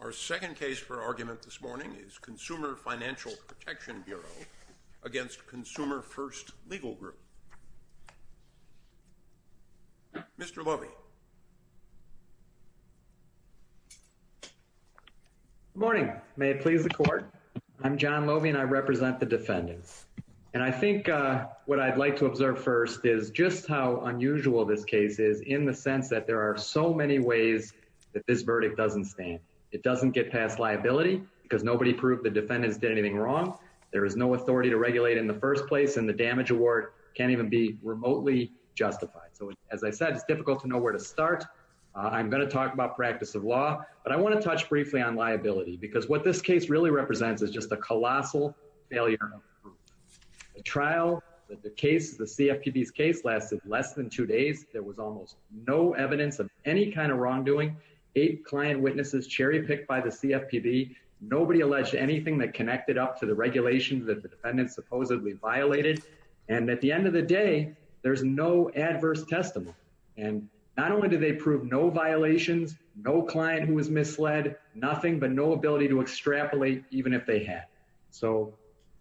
Our second case for argument this morning is Consumer Financial Protection Bureau against Consumer First Legal Group. Mr. Loewe. Good morning. May it please the Court? I'm John Loewe and I represent the defendants. And I think what I'd like to observe first is just how unusual this case is in the sense that there are so many ways that this verdict doesn't stand. It doesn't get past liability because nobody proved the defendants did anything wrong. There is no authority to regulate in the first place and the damage award can't even be remotely justified. So as I said, it's difficult to know where to start. I'm going to talk about practice of law, but I want to touch briefly on liability because what this case really represents is just a colossal failure. The trial, the case, the CFPB's case lasted less than two days. There was almost no evidence of any kind of wrongdoing. Eight client witnesses cherry-picked by the CFPB. Nobody alleged anything that connected up to the regulations that the defendants supposedly violated. And at the end of the day, there's no adverse testimony. And not only did they prove no violations, no client who was misled, nothing but no ability to extrapolate even if they had. So,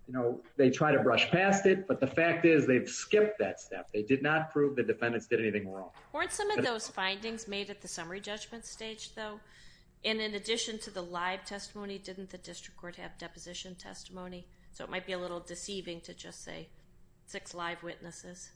you know, they try to brush past it, but the fact is they've skipped that step. They did not prove the defendants did anything wrong. Weren't some of those findings made at the summary judgment stage, though? And in addition to the live testimony, didn't the district court have deposition testimony? So it might be a little deceiving to just say six live witnesses.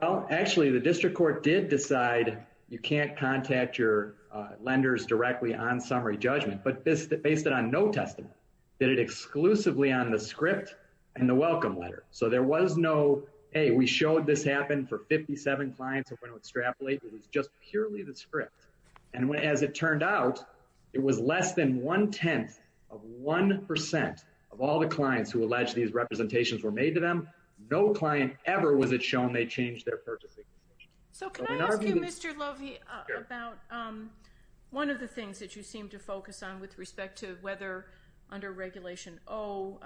Well, actually, the district court did decide you can't contact your lenders directly on summary judgment, but based it on no testimony. Did it exclusively on the script and the welcome letter? So there was no, hey, we showed this happened for 57 clients who went to extrapolate. It was just purely the script. And as it turned out, it was less than one-tenth of 1% of all the clients who alleged these representations were made to them. No client ever was it shown they changed their purchasing decision. So can I ask you, Mr. Lovi, about one of the things that you seem to focus on with respect to whether under Regulation O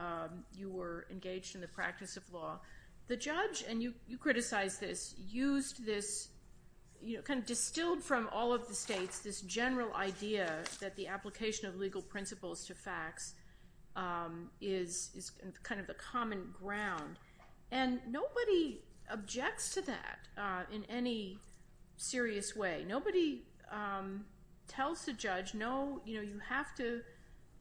you were engaged in the practice of law. The judge, and you criticized this, used this, kind of distilled from all of the states, this general idea that the application of legal principles to facts is kind of a common ground. And nobody objects to that in any serious way. Nobody tells the judge, no, you have to,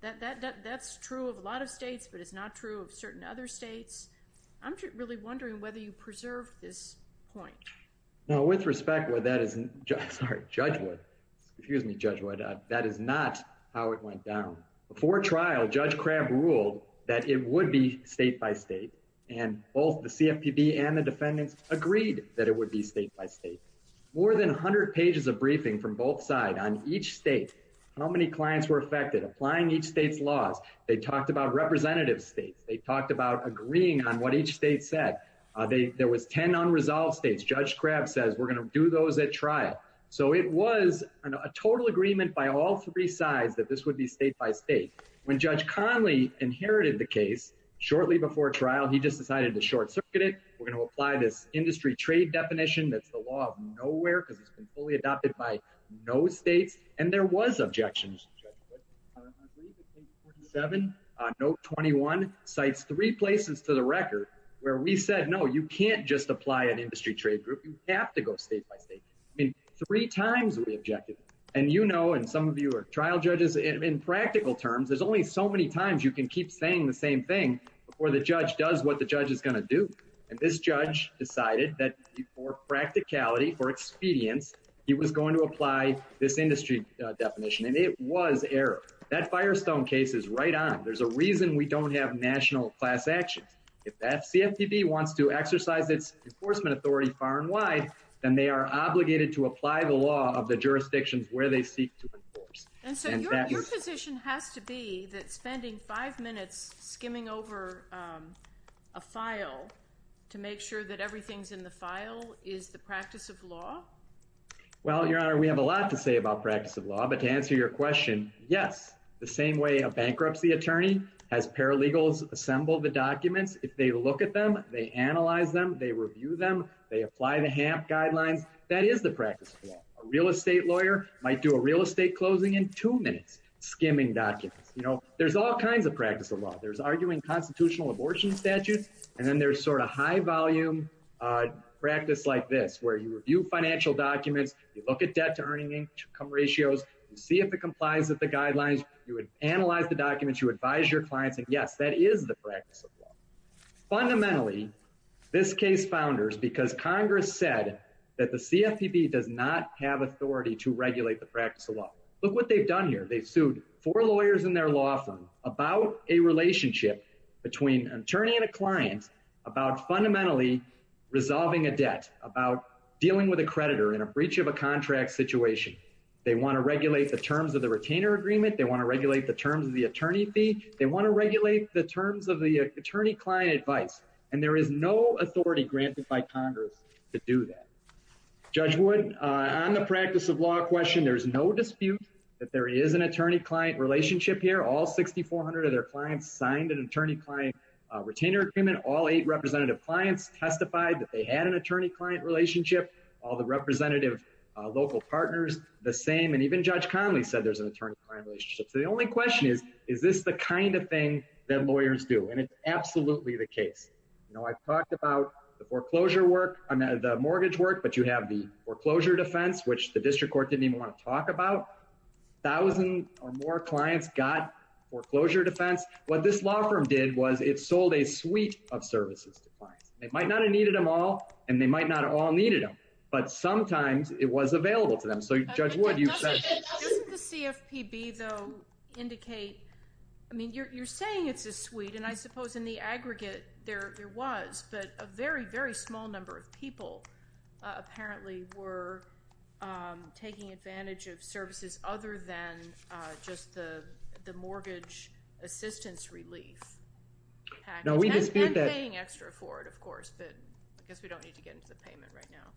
that's true of a lot of states, but it's not true of certain other states. I'm really wondering whether you preserved this point. No, with respect, that is, sorry, Judge Wood, excuse me, Judge Wood, that is not how it went down. Before trial, Judge Crabb ruled that it would be state by state, and both the CFPB and the defendants agreed that it would be state by state. More than 100 pages of briefing from both sides on each state, how many clients were affected, applying each state's laws. They talked about representative states. They talked about agreeing on what each state said. There was 10 unresolved states. Judge Crabb says, we're going to do those at trial. So it was a total agreement by all three sides that this would be state by state. When Judge Conley inherited the case shortly before trial, he just decided to short circuit it. We're going to apply this industry trade definition that's the law of nowhere because it's been fully adopted by no states. And there was objections. Judge Wood, I believe it's page 47, note 21, cites three places to the record where we said, no, you can't just apply an industry trade group. You have to go state by state. I mean, three times we objected. And you know, some of you are trial judges. In practical terms, there's only so many times you can keep saying the same thing before the judge does what the judge is going to do. And this judge decided that for practicality, for expedience, he was going to apply this industry definition. And it was error. That Firestone case is right on. There's a reason we don't have national class actions. If that CFPB wants to exercise its enforcement authority far and wide, then they are obligated to apply the law of the jurisdictions where they seek to enforce. And so your position has to be that spending five minutes skimming over a file to make sure that everything's in the file is the practice of law? Well, Your Honor, we have a lot to say about practice of law. But to answer your question, yes. The same way a bankruptcy attorney has paralegals assemble the documents, if they look at them, they analyze them, they review them, they apply the HAMP guidelines, that is the practice of law. A real estate lawyer might do a real estate closing in two minutes skimming documents. You know, there's all kinds of practice of law. There's arguing constitutional abortion statutes. And then there's sort of high volume practice like this, where you review financial documents, you look at debt to earning income ratios, you see if it complies with the guidelines, you would analyze the documents, you advise your clients. And yes, that is the practice of law. Fundamentally, this case founders because Congress said that the CFPB does not have authority to regulate the practice of law. Look what they've done here. They've sued four lawyers in their law firm about a relationship between an attorney and a client about fundamentally resolving a debt about dealing with a creditor in a breach of a contract situation. They want to regulate the terms of the retainer agreement, they want to regulate the terms of the attorney fee, they want to regulate the terms of the attorney-client advice. And there is no authority granted by Congress to do that. Judge Wood, on the practice of law question, there's no dispute that there is an attorney-client relationship here. All 6,400 of their clients signed an attorney-client retainer agreement. All eight representative clients testified that they had an attorney-client relationship. All the representative local partners, the same. And even Judge Conley said there's an attorney-client relationship here. That's the kind of thing that lawyers do. And it's absolutely the case. You know, I've talked about the foreclosure work, the mortgage work, but you have the foreclosure defense, which the district court didn't even want to talk about. Thousands or more clients got foreclosure defense. What this law firm did was it sold a suite of services to clients. They might not have needed them all, and they might not have all needed them, but sometimes it was available to them. So, Judge Wood, you've said... Doesn't the CFPB, though, indicate... I mean, you're saying it's a suite, and I suppose in the aggregate there was, but a very, very small number of people apparently were taking advantage of services other than just the mortgage assistance relief package. And paying extra for it, of course, but I guess we don't need to get into the payment right now.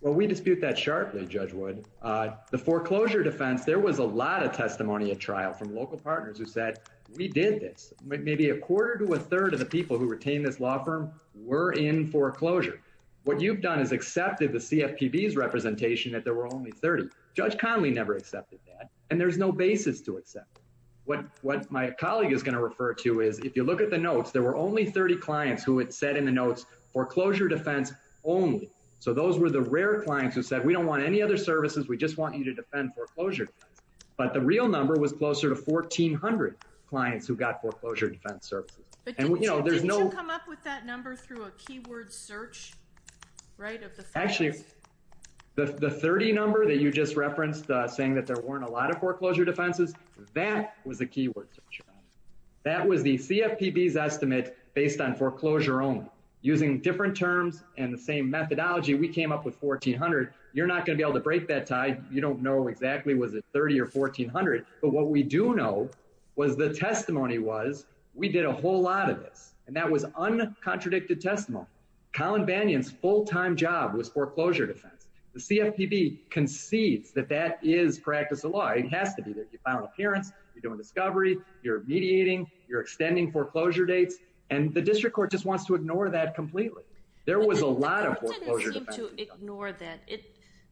Well, we dispute that sharply, Judge Wood. The foreclosure defense, there was a lot of testimony at trial from local partners who said, we did this. Maybe a quarter to a third of the people who retain this law firm were in foreclosure. What you've done is accepted the CFPB's representation that there were only 30. Judge Conley never accepted that, and there's no basis to accept it. What my colleague is going to refer to is, if you look at the notes, there were only 30 those were the rare clients who said, we don't want any other services, we just want you to defend foreclosure. But the real number was closer to 1,400 clients who got foreclosure defense services. But didn't you come up with that number through a keyword search, right? Actually, the 30 number that you just referenced, saying that there weren't a lot of foreclosure defenses, that was the keyword search. That was the CFPB's estimate based on foreclosure only. Using different terms and the same methodology, we came up with 1,400. You're not going to be able to break that tie. You don't know exactly was it 30 or 1,400. But what we do know was the testimony was, we did a whole lot of this, and that was uncontradicted testimony. Colin Banyan's full-time job was foreclosure defense. The CFPB concedes that that is practice of law. It has to be there. You file an appearance, you're doing a discovery, you're mediating, you're extending foreclosure dates, and the district court just wants to ignore that completely. There was a lot of foreclosure defense. The court didn't seem to ignore that.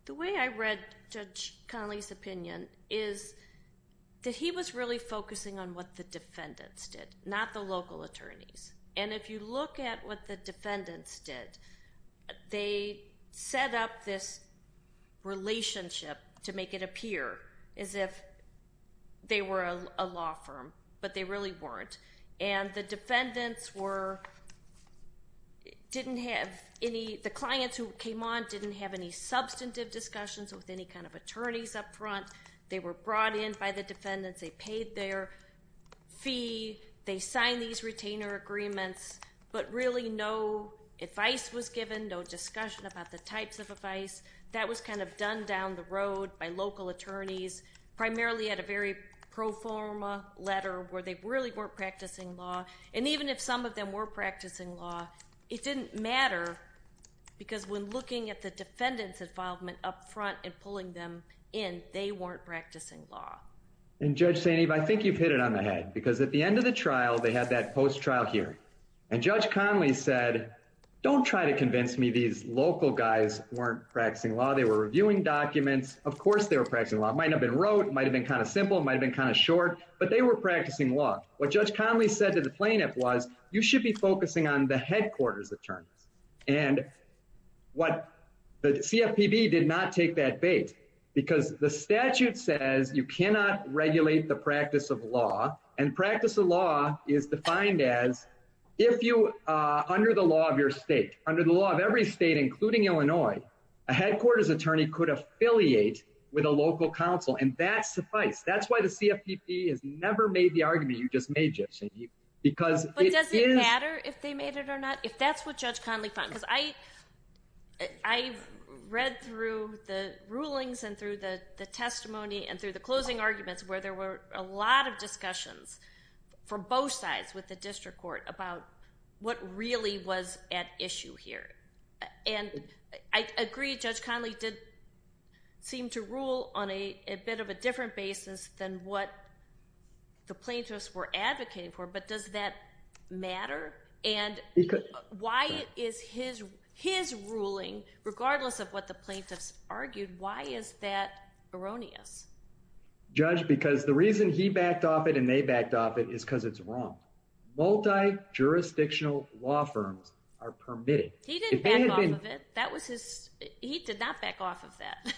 The way I read Judge Conley's opinion is that he was really focusing on what the defendants did, not the local attorneys. And if you look at what the defendants did, they set up this relationship to make it appear as if they were a law firm, but they really weren't. And the defendants were, didn't have any, the clients who came on didn't have any substantive discussions with any kind of attorneys up front. They were brought in by the defendants, they paid their fee, they signed these retainer agreements, but really no advice was given, no discussion about the types of advice. That was kind of done down the road by local attorneys, primarily at a very pro-forma letter where they really weren't practicing law. And even if some of them were practicing law, it didn't matter because when looking at the defendant's involvement up front and pulling them in, they weren't practicing law. And Judge Saineev, I think you've hit it on the head because at the end of the trial, they had that post-trial hearing. And Judge Conley said, don't try to convince me these local guys weren't practicing law. They were reviewing documents. Of course, they were practicing law. It might not have been wrote, it might've been kind of simple, it might've been kind of short, but they were practicing law. What Judge Conley said to the plaintiff was, you should be focusing on the headquarters attorneys. And what the CFPB did not take that bait because the statute says you cannot regulate the practice of law. And practice of law is defined as if you, under the law of your state, under the law of every state, including Illinois, a headquarters attorney could affiliate with a local council. And that's suffice. That's why the CFPB has never made the argument you just made, Judge Saineev. But does it matter if they made it or not, if that's what Judge Conley found? Because I read through the rulings and through the testimony and through the closing arguments where there were a with the district court about what really was at issue here. And I agree Judge Conley did seem to rule on a bit of a different basis than what the plaintiffs were advocating for, but does that matter? And why is his ruling, regardless of what the plaintiffs argued, why is that erroneous? Judge, because the reason he backed off it and they backed off it is because it's wrong. Multi-jurisdictional law firms are permitted. He didn't back off of it. He did not back off of that.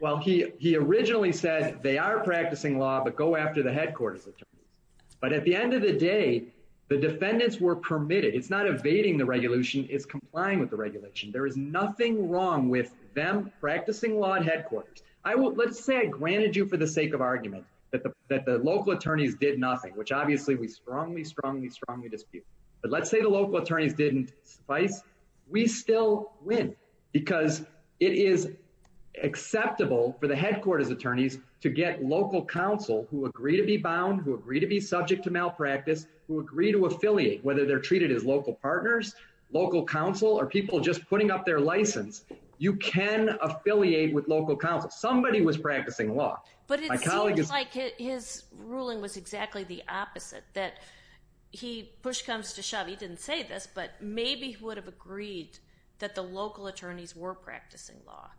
Well, he originally said they are practicing law, but go after the headquarters attorneys. But at the end of the day, the defendants were permitted. It's not evading the regulation, it's complying with the regulation. There is nothing wrong with them practicing law at the end of the day. But let's say the local attorneys did not practice law. But let's say the local attorneys didn't practice law. We still win because it is acceptable for the headquarters attorneys to get local counsel who agree to be bound, who agree to be subject to malpractice, who agree to affiliate, whether they're treated as local partners, local counsel, or people just putting up their license, you can affiliate with local counsel. Somebody was practicing law. But it seems like his ruling was exactly the opposite that he push comes to shove. He didn't say this, but maybe he would have agreed that the local attorneys were practicing law.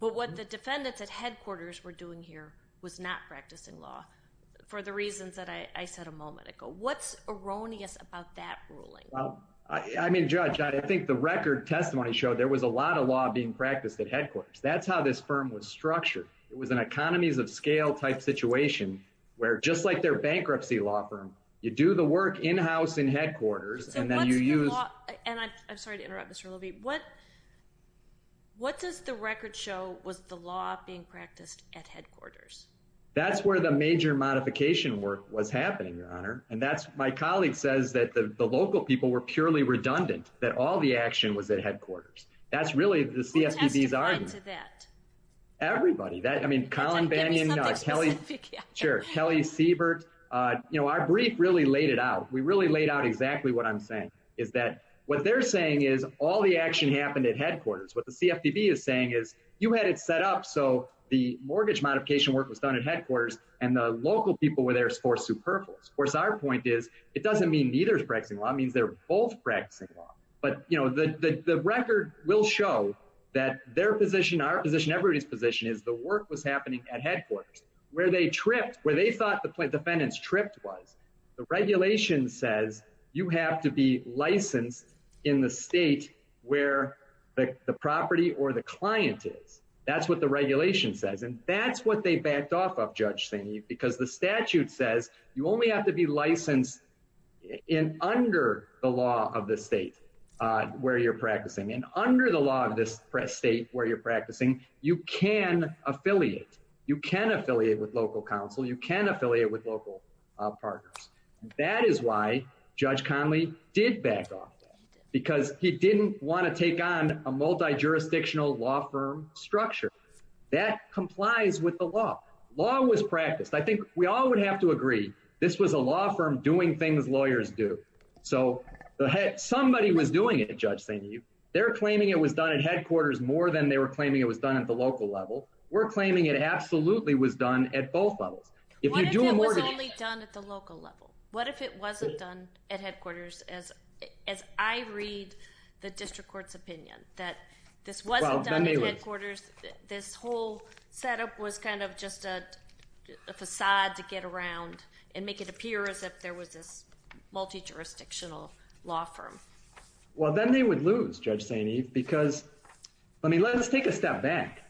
But what the defendants at headquarters were doing here was not practicing law for the reasons that I said a moment ago. What's erroneous about that ruling? I mean, Judge, I think the record testimony showed there was a lot of law being practiced at headquarters. That's how this firm was structured. It was an economies of scale type situation where just like their bankruptcy law firm, you do the work in-house in headquarters. So what's the law? And I'm sorry to interrupt, Mr. Levy. What does the record show was the law being practiced at headquarters? That's where the major modification work was happening, Your Honor. And that's my colleague says that the local people were purely redundant, that all the action was at headquarters. That's really the CFPB's argument. Who testified to that? Everybody. I mean, Colin Bannion, Kelly Siebert. Our brief really laid it out. We really laid out exactly what I'm saying, is that what they're saying is all the action happened at headquarters. What the CFPB is saying is you had it set up so the mortgage modification work was done at headquarters and the local people were there for superfluous. Of course, our point is it doesn't mean neither is practicing law. It means they're both practicing law. But the record will show that their position, our position, everybody's position is the work was happening at headquarters where they tripped, where they thought the defendant's tripped was. The regulation says you have to be licensed in the state where the property or the client is. That's what the regulation says. And that's what they backed off of, Judge St. Eve, because the statute says you only have to be licensed under the law of the state where you're practicing. And under the law of this state where you're practicing, you can affiliate. You can affiliate with local counsel. You can affiliate with local partners. That is why Judge Conley did back off, because he didn't want to take on a multi-jurisdictional law firm structure. That complies with the law. Law was this was a law firm doing things lawyers do. So somebody was doing it, Judge St. Eve. They're claiming it was done at headquarters more than they were claiming it was done at the local level. We're claiming it absolutely was done at both levels. What if it was only done at the local level? What if it wasn't done at headquarters? As I read the district court's opinion that this wasn't done at headquarters, this whole setup was kind of just a facade to get around and make it appear as if there was this multi-jurisdictional law firm. Well, then they would lose, Judge St. Eve, because, I mean, let's take a step back.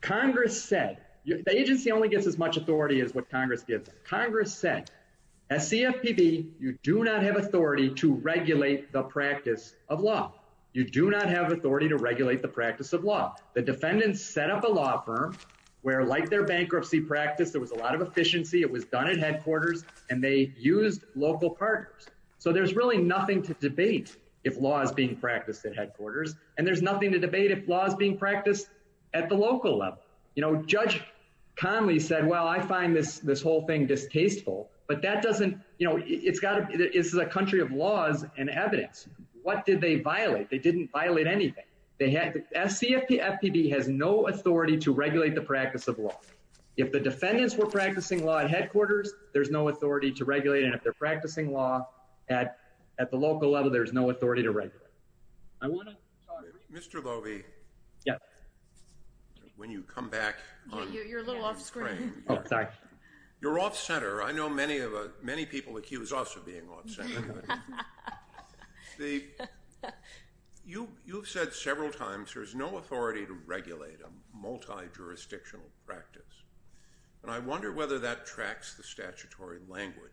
Congress said, the agency only gets as much authority as what Congress gives them. Congress said, as CFPB, you do not have authority to regulate the practice of law. You do not have authority to regulate the practice of law. The defendants set up a law firm where, like their bankruptcy practice, there was a lot of efficiency. It was done at headquarters, and they used local partners. So there's really nothing to debate if law is being practiced at headquarters, and there's nothing to debate if law is being practiced at the local level. Judge Conley said, well, I find this whole thing distasteful, but that doesn't, you know, it's a country of laws and evidence. What did they violate? They didn't violate anything. They had, CFPB has no authority to regulate the practice of law. If the defendants were practicing law at headquarters, there's no authority to regulate, and if they're practicing law at the local level, there's no authority to regulate. I want to. Mr. Loewe. Yeah. When you come back. You're a little off screen. Oh, sorry. You're off center. I know many people accuse us of being off center. You've said several times there's no authority to regulate a multi-jurisdictional practice, and I wonder whether that tracks the statutory language,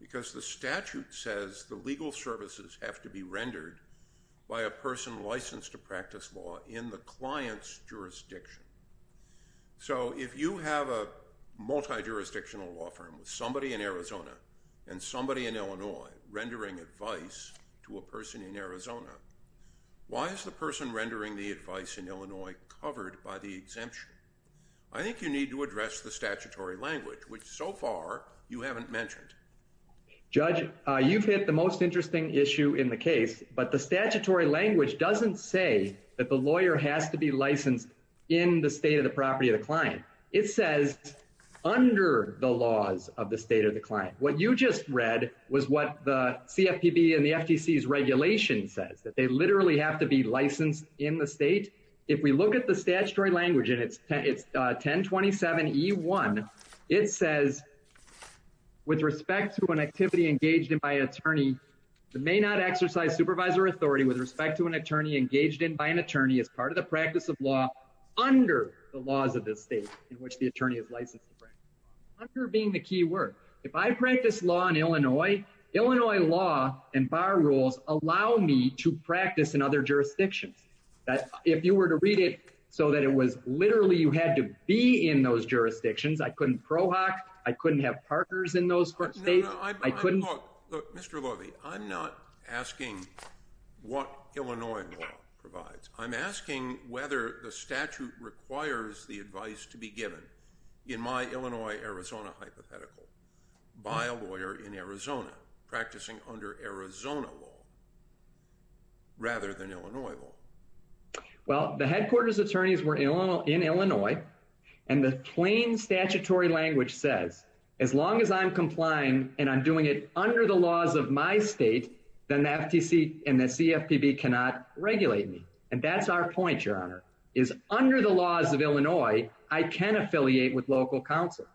because the statute says the legal services have to be rendered by a person licensed to practice law in the client's jurisdiction. So if you have a multi-jurisdictional law firm with somebody in Arizona and somebody in Illinois rendering advice to a person in Arizona, why is the person rendering the advice in Illinois covered by the exemption? I think you need to address the statutory language, which so far you haven't mentioned. Judge, you've hit the most interesting issue in the case, but the statutory language doesn't say that the lawyer has to be licensed in the state of the property of the client. It says under the laws of the state of the client. What you just read was what the CFPB and the FTC's regulation says, that they literally have to be licensed in the state. If we look at the statutory language and it's 1027E1, it says with respect to an activity engaged in by an attorney, the may not exercise supervisor authority with respect to an attorney engaged in by an attorney as part of the practice of law under the laws of the state in which the attorney is licensed to practice law. Under being the key word. If I practice law in Illinois, Illinois law and bar rules allow me to practice in other jurisdictions. If you were to read it so that it was literally you had to be in those jurisdictions, I couldn't prohock, I couldn't have partners in those states. I couldn't. Look, Mr. Loewe, I'm not asking what Illinois law provides. I'm asking whether the statute requires the advice to be given in my Illinois, Arizona hypothetical by a lawyer in Arizona practicing under Arizona law rather than Illinois law. Well, the headquarters attorneys were in Illinois and the plain statutory language says as long as I'm complying and I'm doing it under the laws of my state, then the FTC and the CFPB cannot regulate me. And that's our point, Your Honor, is under the laws of Illinois, I can affiliate with local counsel.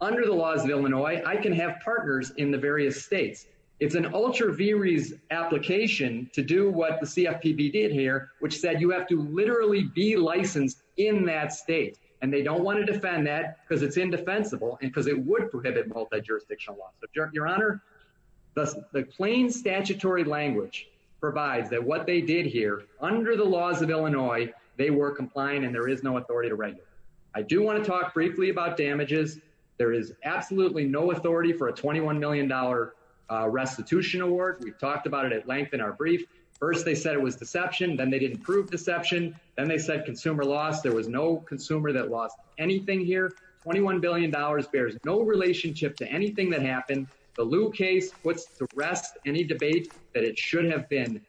Under the laws of Illinois, I can have partners in the various states. It's an ultra varies application to do what the CFPB did here, which said you have to literally be licensed in that state. And they don't want to defend that because it's indefensible and because it would prohibit multi-jurisdictional law. So, Your Honor, the plain statutory language provides that what they did here under the laws of Illinois, they were compliant and there is no authority to regulate. I do want to talk briefly about damages. There is absolutely no authority for a $21 million restitution award. We've talked about it at length in our brief. First, they said it was deception. Then they didn't prove deception. Then they said consumer loss. There was no consumer that lost anything here. $21 billion bears no relationship to anything that happened. The Lew case puts to rest any debate that it should have been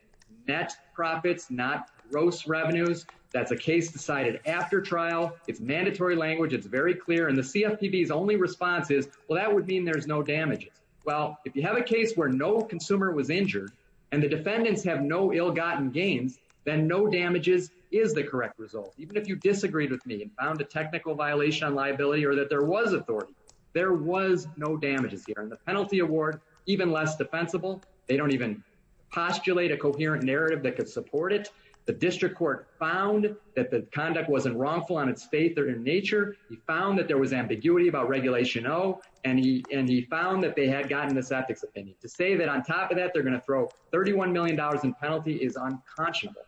net profits, not gross revenues. That's a case decided after trial. It's mandatory language. It's very clear. And the CFPB's only response is, well, that would mean there's no damages. Well, if you have a case where no consumer was injured and the defendants have no ill-gotten gains, then no damages is the correct result. Even if you disagreed with me and found a technical violation on liability or that there was authority, there was no damages here. And the penalty award, even less defensible. They don't even postulate a coherent narrative that could support it. The district court found that the conduct wasn't wrongful on its faith or in nature. He found that there was ambiguity about Regulation O, and he found that they had gotten this ethics opinion. To say that on top of that they're going to throw $31 million in penalty is unconscionable.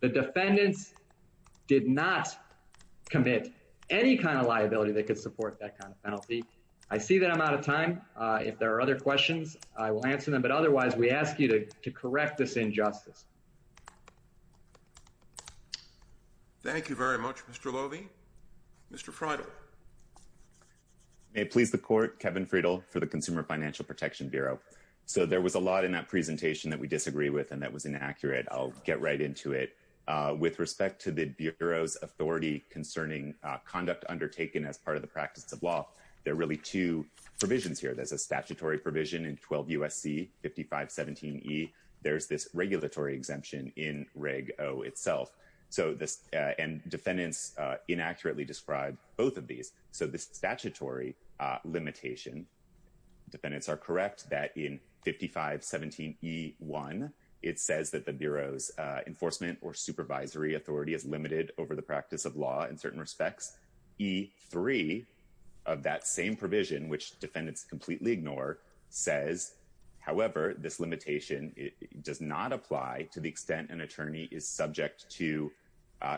The defendants did not commit any kind of liability that could support that kind of penalty. I see that I'm out of time. If there are other questions, I will answer them. But otherwise, we ask you to correct this injustice. Thank you very much, Mr. Lovi. Mr. Friedel. May it please the court, Kevin Friedel for the Consumer Financial Protection Bureau. So there was a lot in that presentation that we disagree with and that was inaccurate. I'll get right into it. With respect to the Bureau's authority concerning conduct undertaken as part of the practice of law, there are really two provisions here. There's a statutory provision in 12 U.S.C. 5517E. There's this regulatory exemption in Reg O itself. So this and defendants inaccurately describe both of these. So the statutory limitation, defendants are correct that in 5517E1, it says that the Bureau's enforcement or supervisory authority is limited over the practice of law in certain respects. E3 of that same provision, which defendants completely ignore, says, however, this limitation does not apply to the extent an attorney is subject to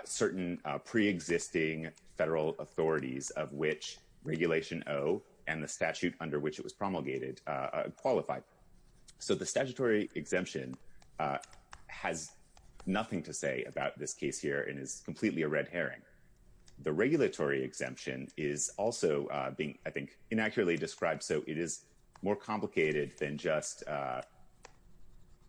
certain preexisting federal authorities of which Regulation O and the statute under which it was promulgated qualify. So the statutory exemption has nothing to say about this case here and is completely a red herring. The regulatory exemption is also being, I think, inaccurately described. So it is more complicated than just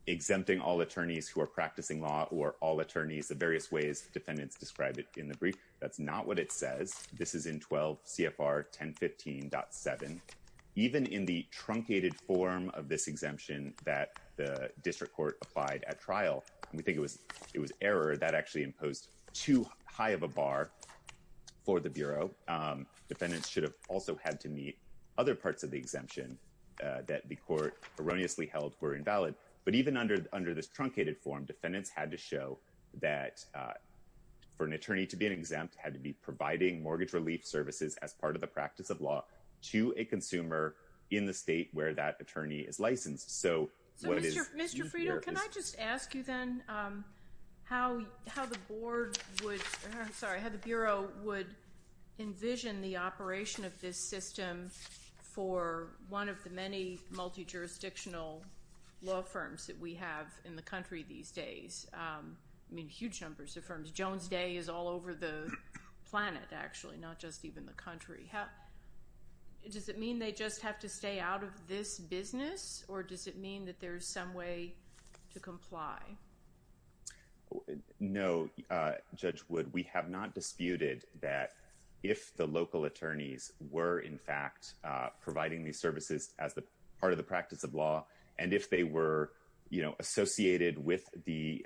exempting all attorneys who are practicing law or all attorneys, the various ways defendants describe it in the brief. That's not what it says. This is in 12 CFR 1015.7. Even in the truncated form of this exemption that the district court applied at trial, we think it was error that actually imposed too high of a bar for the Bureau. Defendants should have also had to meet other parts of the exemption that the court erroneously held were invalid. But even under this truncated form, defendants had to show that for an attorney to be exempt, had to be providing mortgage relief services as part of the practice of law to a consumer in the state where that attorney is licensed. So what is... Envision the operation of this system for one of the many multi-jurisdictional law firms that we have in the country these days. I mean, huge numbers of firms. Jones Day is all over the planet, actually, not just even the country. Does it mean they just have to stay out of this business or does it mean that there's some way to comply? No, Judge Wood. We have not disputed that if the local attorneys were in fact providing these services as part of the practice of law and if they were associated with the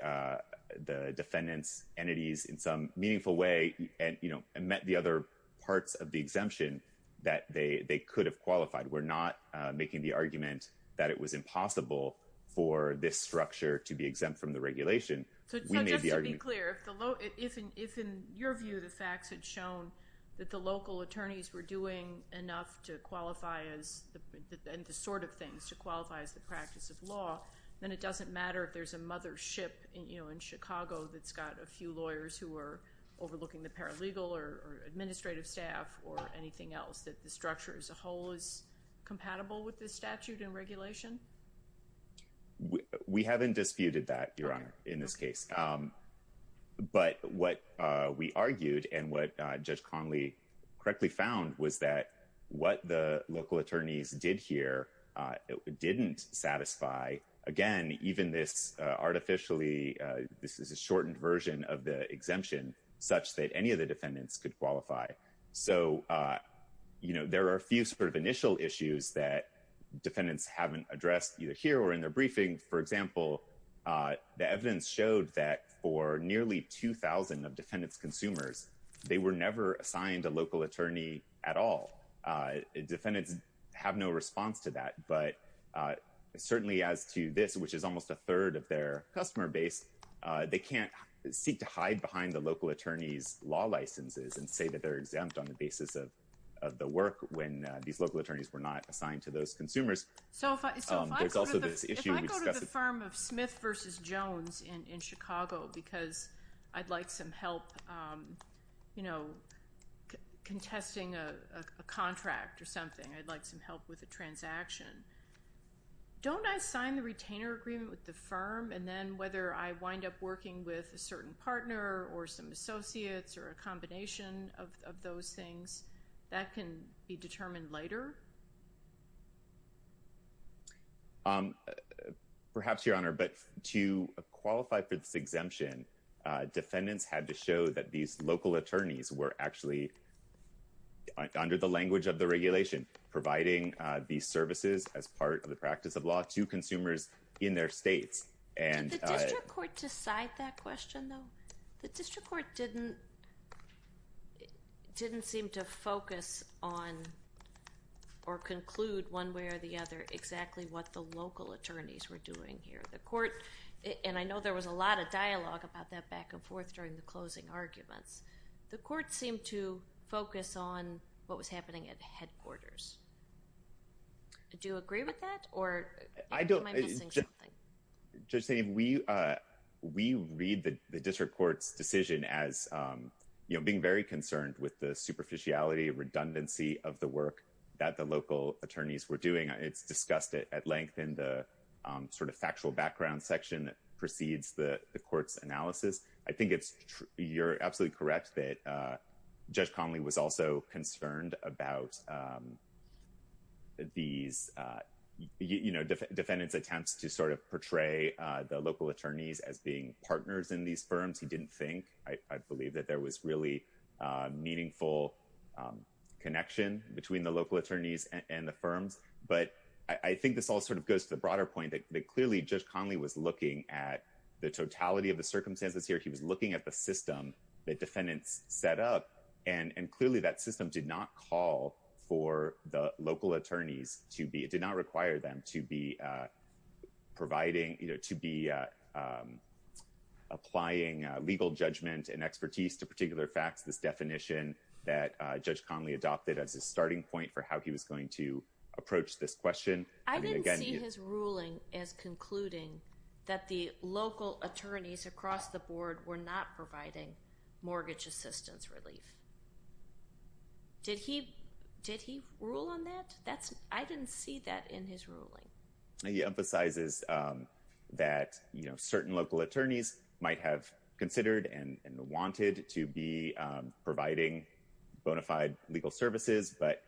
defendants' entities in some meaningful way and met the other parts of the exemption that they could have qualified. We're not making the argument that it was impossible for this structure to be exempt from the regulation. So just to be clear, if in your view the facts had shown that the local attorneys were doing enough to qualify as the sort of things to qualify as the practice of law, then it doesn't matter if there's a mothership in Chicago that's got a few lawyers who are compatible with this statute and regulation? We haven't disputed that, Your Honor, in this case. But what we argued and what Judge Conley correctly found was that what the local attorneys did here didn't satisfy, again, even this artificially, this is a shortened version of the exemption such that any of the that defendants haven't addressed either here or in their briefing. For example, the evidence showed that for nearly 2,000 of defendants' consumers, they were never assigned a local attorney at all. Defendants have no response to that. But certainly as to this, which is almost a third of their customer base, they can't seek to hide behind the local attorney's law licenses and say that they're exempt on the basis of the work when these local attorneys were not assigned to those consumers. There's also this issue. So if I go to the firm of Smith v. Jones in Chicago because I'd like some help contesting a contract or something, I'd like some help with a transaction, don't I sign the retainer agreement with the firm and then whether I wind up working with a certain partner or some associates or a combination of those things, that can be determined later? Perhaps, Your Honor, but to qualify for this exemption, defendants had to show that these local attorneys were actually, under the language of the regulation, providing these services as part of the practice of law to consumers in their states. Did the district court decide that question, though? The district court didn't seem to focus on or conclude one way or the other exactly what the local attorneys were doing here. And I know there was a lot of dialogue about that back and forth during the closing arguments. The court seemed to focus on what was happening at headquarters. Do you agree with that? I don't. We read the district court's decision as being very concerned with the superficiality, redundancy of the work that the local attorneys were doing. It's discussed at length in the sort of factual background section that precedes the court's analysis. I think you're absolutely correct that Judge Conley was also concerned about defendants' attempts to sort of portray the local attorneys as being partners in these firms. He didn't think. I believe that there was really meaningful connection between the local attorneys and the firms. But I think this all sort of goes to the broader point that, clearly, Judge Conley was looking at the totality of the defendants set up. And clearly, that system did not call for the local attorneys to be, it did not require them to be providing, to be applying legal judgment and expertise to particular facts, this definition that Judge Conley adopted as a starting point for how he was going to approach this question. I didn't see his ruling as concluding that the local attorneys across the board were not providing mortgage assistance relief. Did he rule on that? I didn't see that in his ruling. He emphasizes that certain local attorneys might have considered and wanted to be providing bona fide legal services. But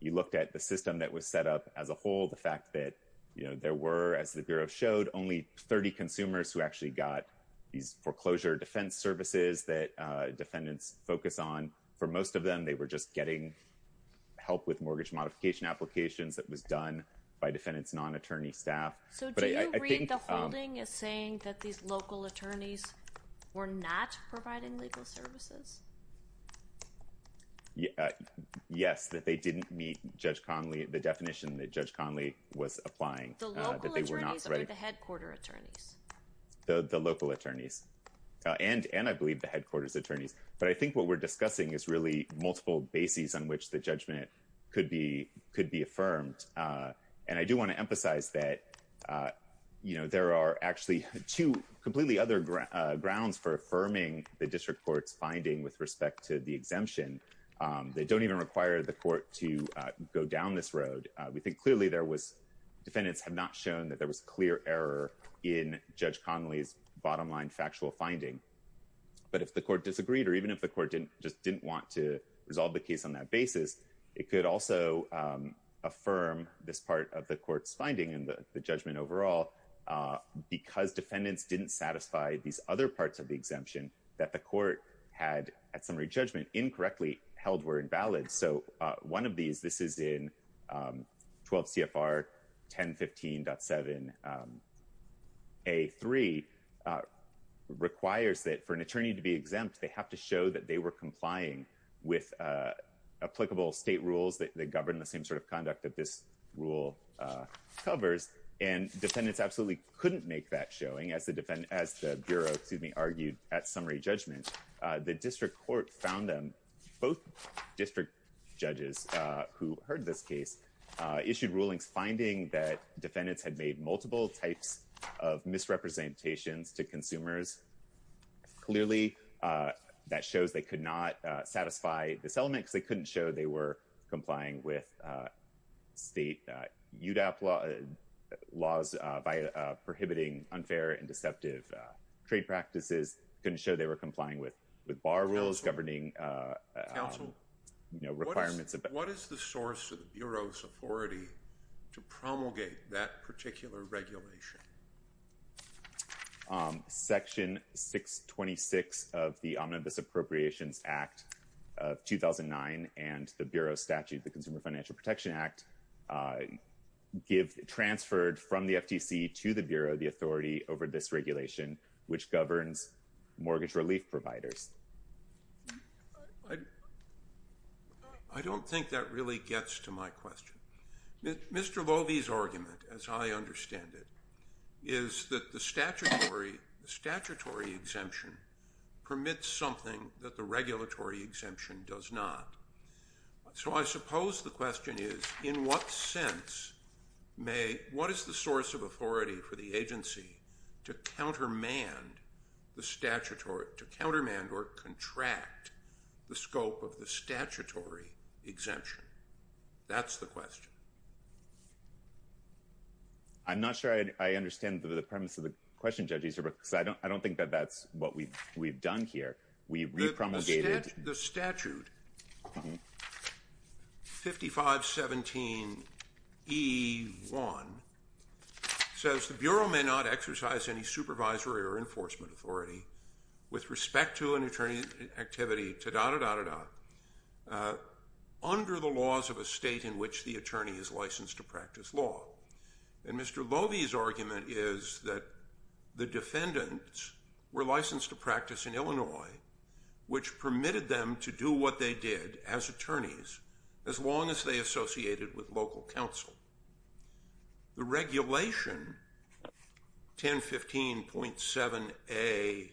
you looked at the system that was set up as a whole, the fact that there were, as the Bureau showed, only 30 consumers who actually got these foreclosure defense services that defendants focus on. For most of them, they were just getting help with mortgage modification applications that was done by defendants' non-attorney staff. So do you read the holding as saying that these local attorneys were not providing legal services? Yes, that they didn't meet Judge Conley, the definition that Judge Conley was applying. The local attorneys or the headquarter attorneys? The local attorneys and I believe the headquarters attorneys. But I think what we're discussing is really multiple bases on which the judgment could be affirmed. And I do want to emphasize that there are actually two completely other grounds for affirming the district court's finding with respect to the exemption. They don't even require the court to go down this road. We think clearly defendants have not shown that there was clear error in Judge Conley's bottom-line factual finding. But if the court disagreed or even if the court just didn't want to resolve the case on that basis, it could also affirm this part of the court's finding and the judgment overall because defendants didn't satisfy these other parts of the exemption that the court had, at summary judgment, incorrectly held were invalid. So one of these, this is in 12 CFR 1015.7A3, requires that for an attorney to be exempt, they have to show that they were complying with applicable state rules that govern the same sort of conduct that this rule covers. And defendants absolutely couldn't make that showing as the Bureau argued at summary judgment. The district court found them, both district judges who heard this case, issued rulings finding that defendants had made multiple types of misrepresentations to consumers. Clearly, that shows they could not satisfy this element because they couldn't show they were complying with state UDAP laws by prohibiting unfair and deceptive trade practices, couldn't show they were complying with bar rules governing requirements. Counsel, what is the source of the Bureau's authority to promulgate that particular regulation? Section 626 of the Omnibus Appropriations Act of 2009 and the Bureau statute, the Consumer Financial Protection Act, transferred from the FTC to the Bureau the authority over this regulation, which governs mortgage relief providers. I don't think that really gets to my question. Mr. Vovey's argument, as I understand it, is that the statutory exemption permits something that the regulatory exemption does not. So I suppose the question is, in what sense what is the source of authority for the agency to countermand or contract the scope of the statutory exemption? That's the question. I'm not sure I understand the premise of the question, Judge Easterbrook, because I don't think that that's what we've done here. The statute, 5517E1, says the Bureau may not exercise any supervisory or enforcement authority with respect to an attorney activity, ta-da-da-da-da-da, under the laws of a state in which the attorney is licensed to practice law. And Mr. Vovey's argument is that the defendants were licensed to practice in Illinois, which permitted them to do what they did as attorneys, as long as they associated with local counsel. The regulation, 1015.7A2,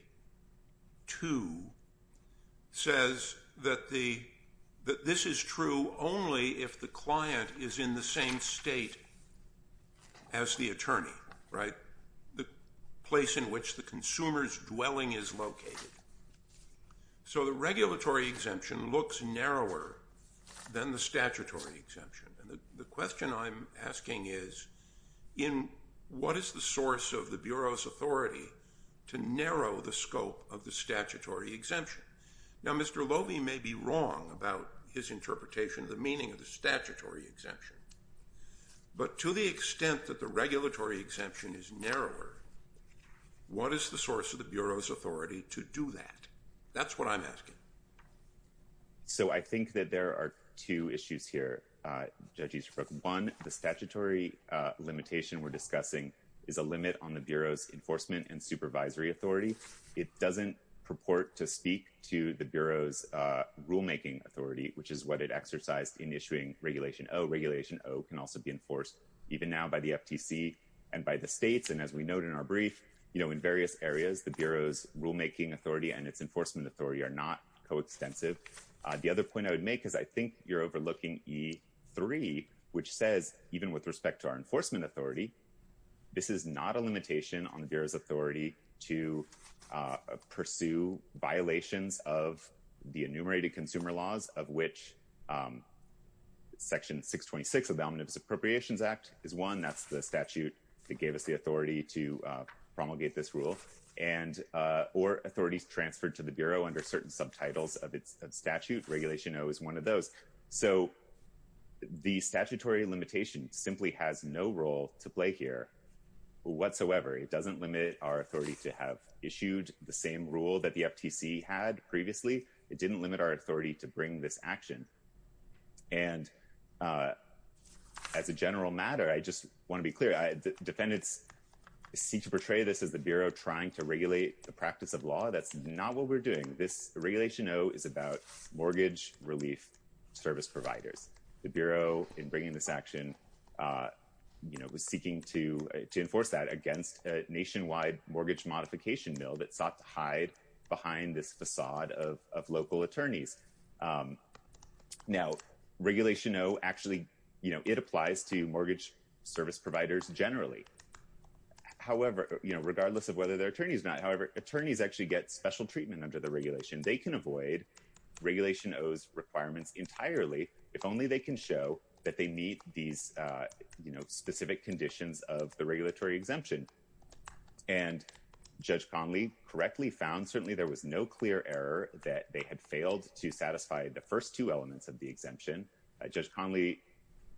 says that this is true only if the client is in the same state as the attorney, right? The in which the consumer's dwelling is located. So the regulatory exemption looks narrower than the statutory exemption. And the question I'm asking is, in what is the source of the Bureau's authority to narrow the scope of the statutory exemption? Now, Mr. Vovey may be wrong about his interpretation of the meaning of the statutory exemption, but to the extent that the regulatory exemption is narrower, what is the source of the Bureau's authority to do that? That's what I'm asking. So I think that there are two issues here, Judge Easterbrook. One, the statutory limitation we're discussing is a limit on the Bureau's enforcement and supervisory authority. It doesn't purport to speak to the Bureau's rulemaking authority, which is what it exercised in issuing Regulation O. Regulation O can also be enforced even now by the FTC and by the states. And as we note in our brief, you know, in various areas, the Bureau's rulemaking authority and its enforcement authority are not coextensive. The other point I would make is I think you're overlooking E3, which says, even with respect to our enforcement authority, this is not a limitation on the Bureau's authority to pursue violations of the enumerated consumer laws, of which Section 626 of the Omnibus Appropriations Act is one. That's the statute that gave us the authority to promulgate this rule. Or authorities transferred to the Bureau under certain subtitles of its statute. Regulation O is one of those. So the statutory limitation simply has no role to play here whatsoever. It doesn't limit our authority to have issued the same rule that the FTC had previously. It didn't limit our authority to bring this action. And as a general matter, I just want to be clear. Defendants seek to portray this as the Bureau trying to regulate the practice of law. That's not what we're doing. This Regulation O is about mortgage relief service providers. The Bureau in bringing this action was seeking to enforce that against a nationwide mortgage modification mill that sought to hide behind this facade of local attorneys. Now, Regulation O, actually, it applies to mortgage service providers generally. However, regardless of whether they're attorneys or not, however, attorneys actually get special treatment under the that they meet these, you know, specific conditions of the regulatory exemption. And Judge Conley correctly found certainly there was no clear error that they had failed to satisfy the first two elements of the exemption. Judge Conley,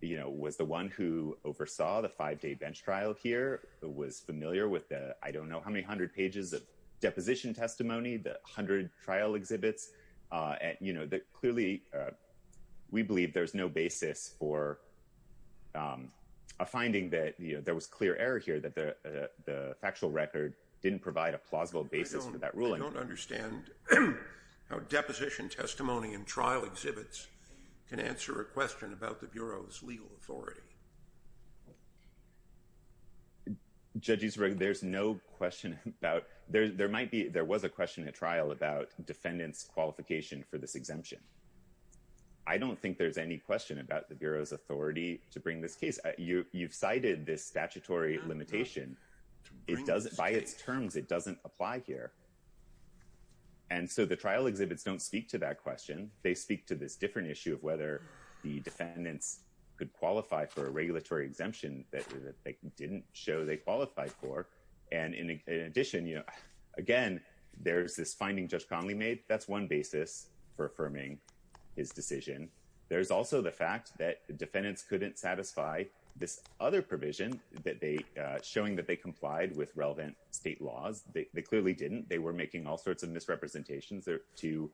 you know, was the one who oversaw the five-day bench trial here, was familiar with the I don't know how many hundred pages of deposition testimony, the hundred trial exhibits. And, you know, clearly, we believe there's no basis for a finding that, you know, there was clear error here that the factual record didn't provide a plausible basis for that ruling. I don't understand how deposition testimony and trial exhibits can answer a question about the Bureau's legal authority. Judge Ezra, there's no question about, there might be, there was a question at trial about the Bureau's authority to bring this case. You've cited this statutory limitation. It doesn't, by its terms, it doesn't apply here. And so the trial exhibits don't speak to that question. They speak to this different issue of whether the defendants could qualify for a regulatory exemption that they didn't show they qualified for. And in addition, you know, again, there's this finding Judge Conley made, that's one basis for affirming his decision. There's also the fact that defendants couldn't satisfy this other provision that they, showing that they complied with relevant state laws. They clearly didn't. They were making all sorts of misrepresentations to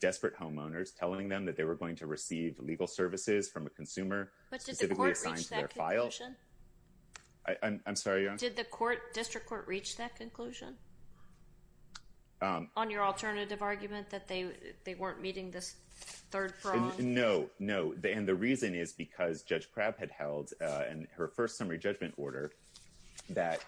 desperate homeowners, telling them that they were going to receive legal services from a consumer. But did the court reach that conclusion? I'm sorry, Your Honor? Did the court, district court, reach that conclusion? On your alternative argument that they weren't meeting this third prong? No, no. And the reason is because Judge Crabb had held in her first summary judgment order that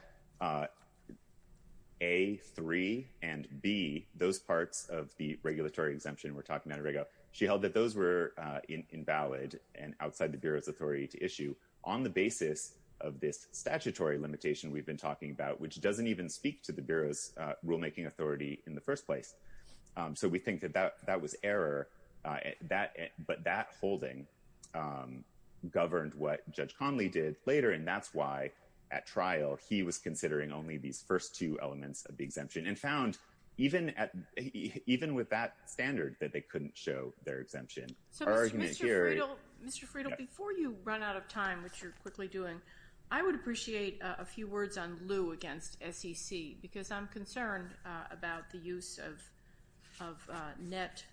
A, 3, and B, those parts of the regulatory exemption we're talking about in Reg O, she held that those were invalid and outside the Bureau's authority to issue on the basis of this statutory limitation we've been talking about, which doesn't even speak to the Bureau's rulemaking authority in the first place. So we think that that was error, but that holding governed what Judge Conley did later. And that's why at trial he was considering only these first two elements of the exemption and found even with that standard that they couldn't show their exemption. So Mr. Friedel, before you run out of time, which you're quickly doing, I would appreciate a few words on Lew against SEC, because I'm concerned about the use of net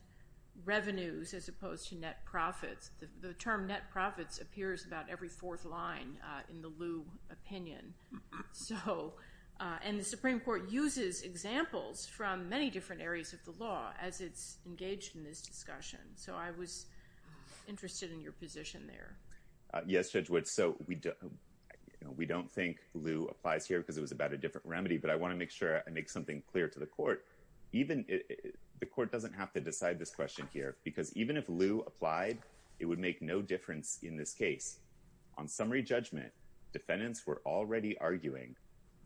revenues as opposed to net profits. The term net profits appears about every fourth line in the Lew opinion. And the Supreme Court uses examples from many different areas of the law as it's engaged in this discussion. So I was interested in your position there. Yes, Judge Woods. So we don't think Lew applies here because it was about a different remedy, but I want to make sure I make something clear to the court. The court doesn't have to decide this question here, because even if Lew applied, it would make no difference in this case. On summary judgment, defendants were already arguing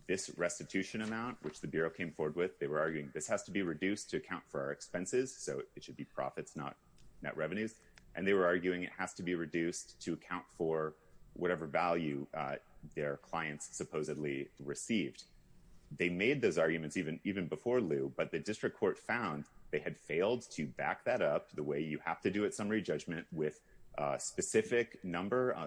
this restitution amount, which the Bureau came forward with. They were arguing this has to be reduced to account for our expenses. So it should be profits, not net revenues. And they were arguing it has to be reduced to account for whatever value their clients supposedly received. They made those arguments even before Lew, but the district court found they had failed to back that up the way you have to do at summary judgment with a specific number.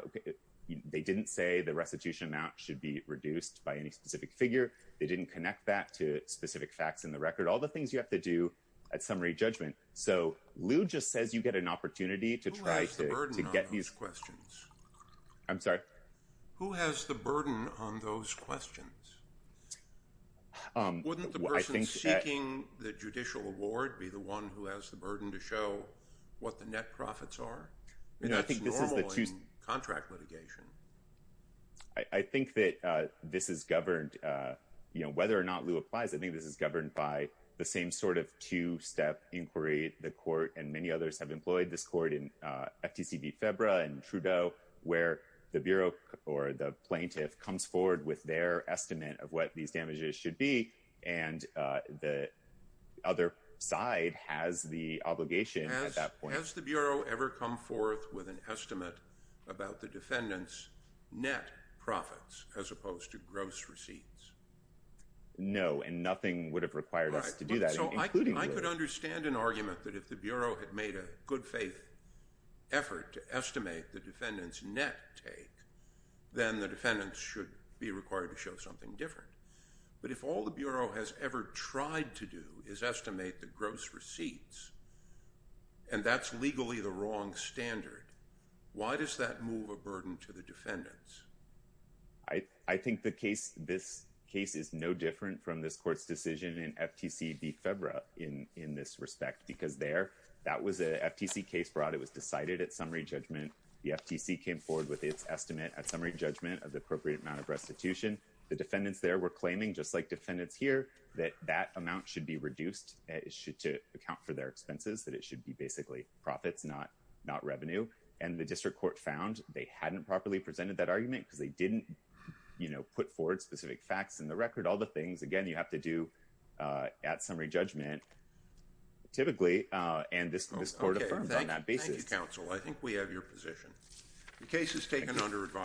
They didn't say the restitution amount should be reduced by any specific figure. They didn't connect that to specific facts in the record. All the things you have to do at summary judgment. So Lew just says you get an opportunity to try to get these. Who has the burden on those questions? I'm sorry? Who has the burden on those questions? Wouldn't the person seeking the judicial award be the one who has the burden to show what the net profits are? That's normal in contract litigation. I think that this is governed, you know, whether or not Lew applies, I think this is governed by the same sort of two-step inquiry the court and many others have employed this court in FTC v. Febra and Trudeau, where the Bureau or the plaintiff comes forward with their estimate of what these damages should be. And the other side has the obligation at that point. Has the Bureau ever come forth with an estimate about the defendant's net profits as opposed to gross receipts? No, and nothing would have required us to do that. I could understand an argument that if the Bureau had made a good faith effort to estimate the defendant's net take, then the defendants should be required to show something different. But if all the Bureau has ever tried to do is estimate the gross receipts, and that's legally the wrong standard, why does that move a burden to the defendants? I think this case is no different from this court's decision in FTC v. Febra in this respect, because there that was an FTC case brought. It was decided at summary judgment. The FTC came forward with its estimate at summary judgment of the appropriate amount of restitution. The defendants there were claiming, just like defendants here, that that amount should be reduced to account for their expenses, that it should be basically profits, not revenue. And the district court found they hadn't properly presented that argument because they didn't put forward specific facts in the record. All the things, again, you have to do at summary judgment typically, and this court affirmed on that basis. Thank you, counsel. I think we have your position. The case is taken under advisory.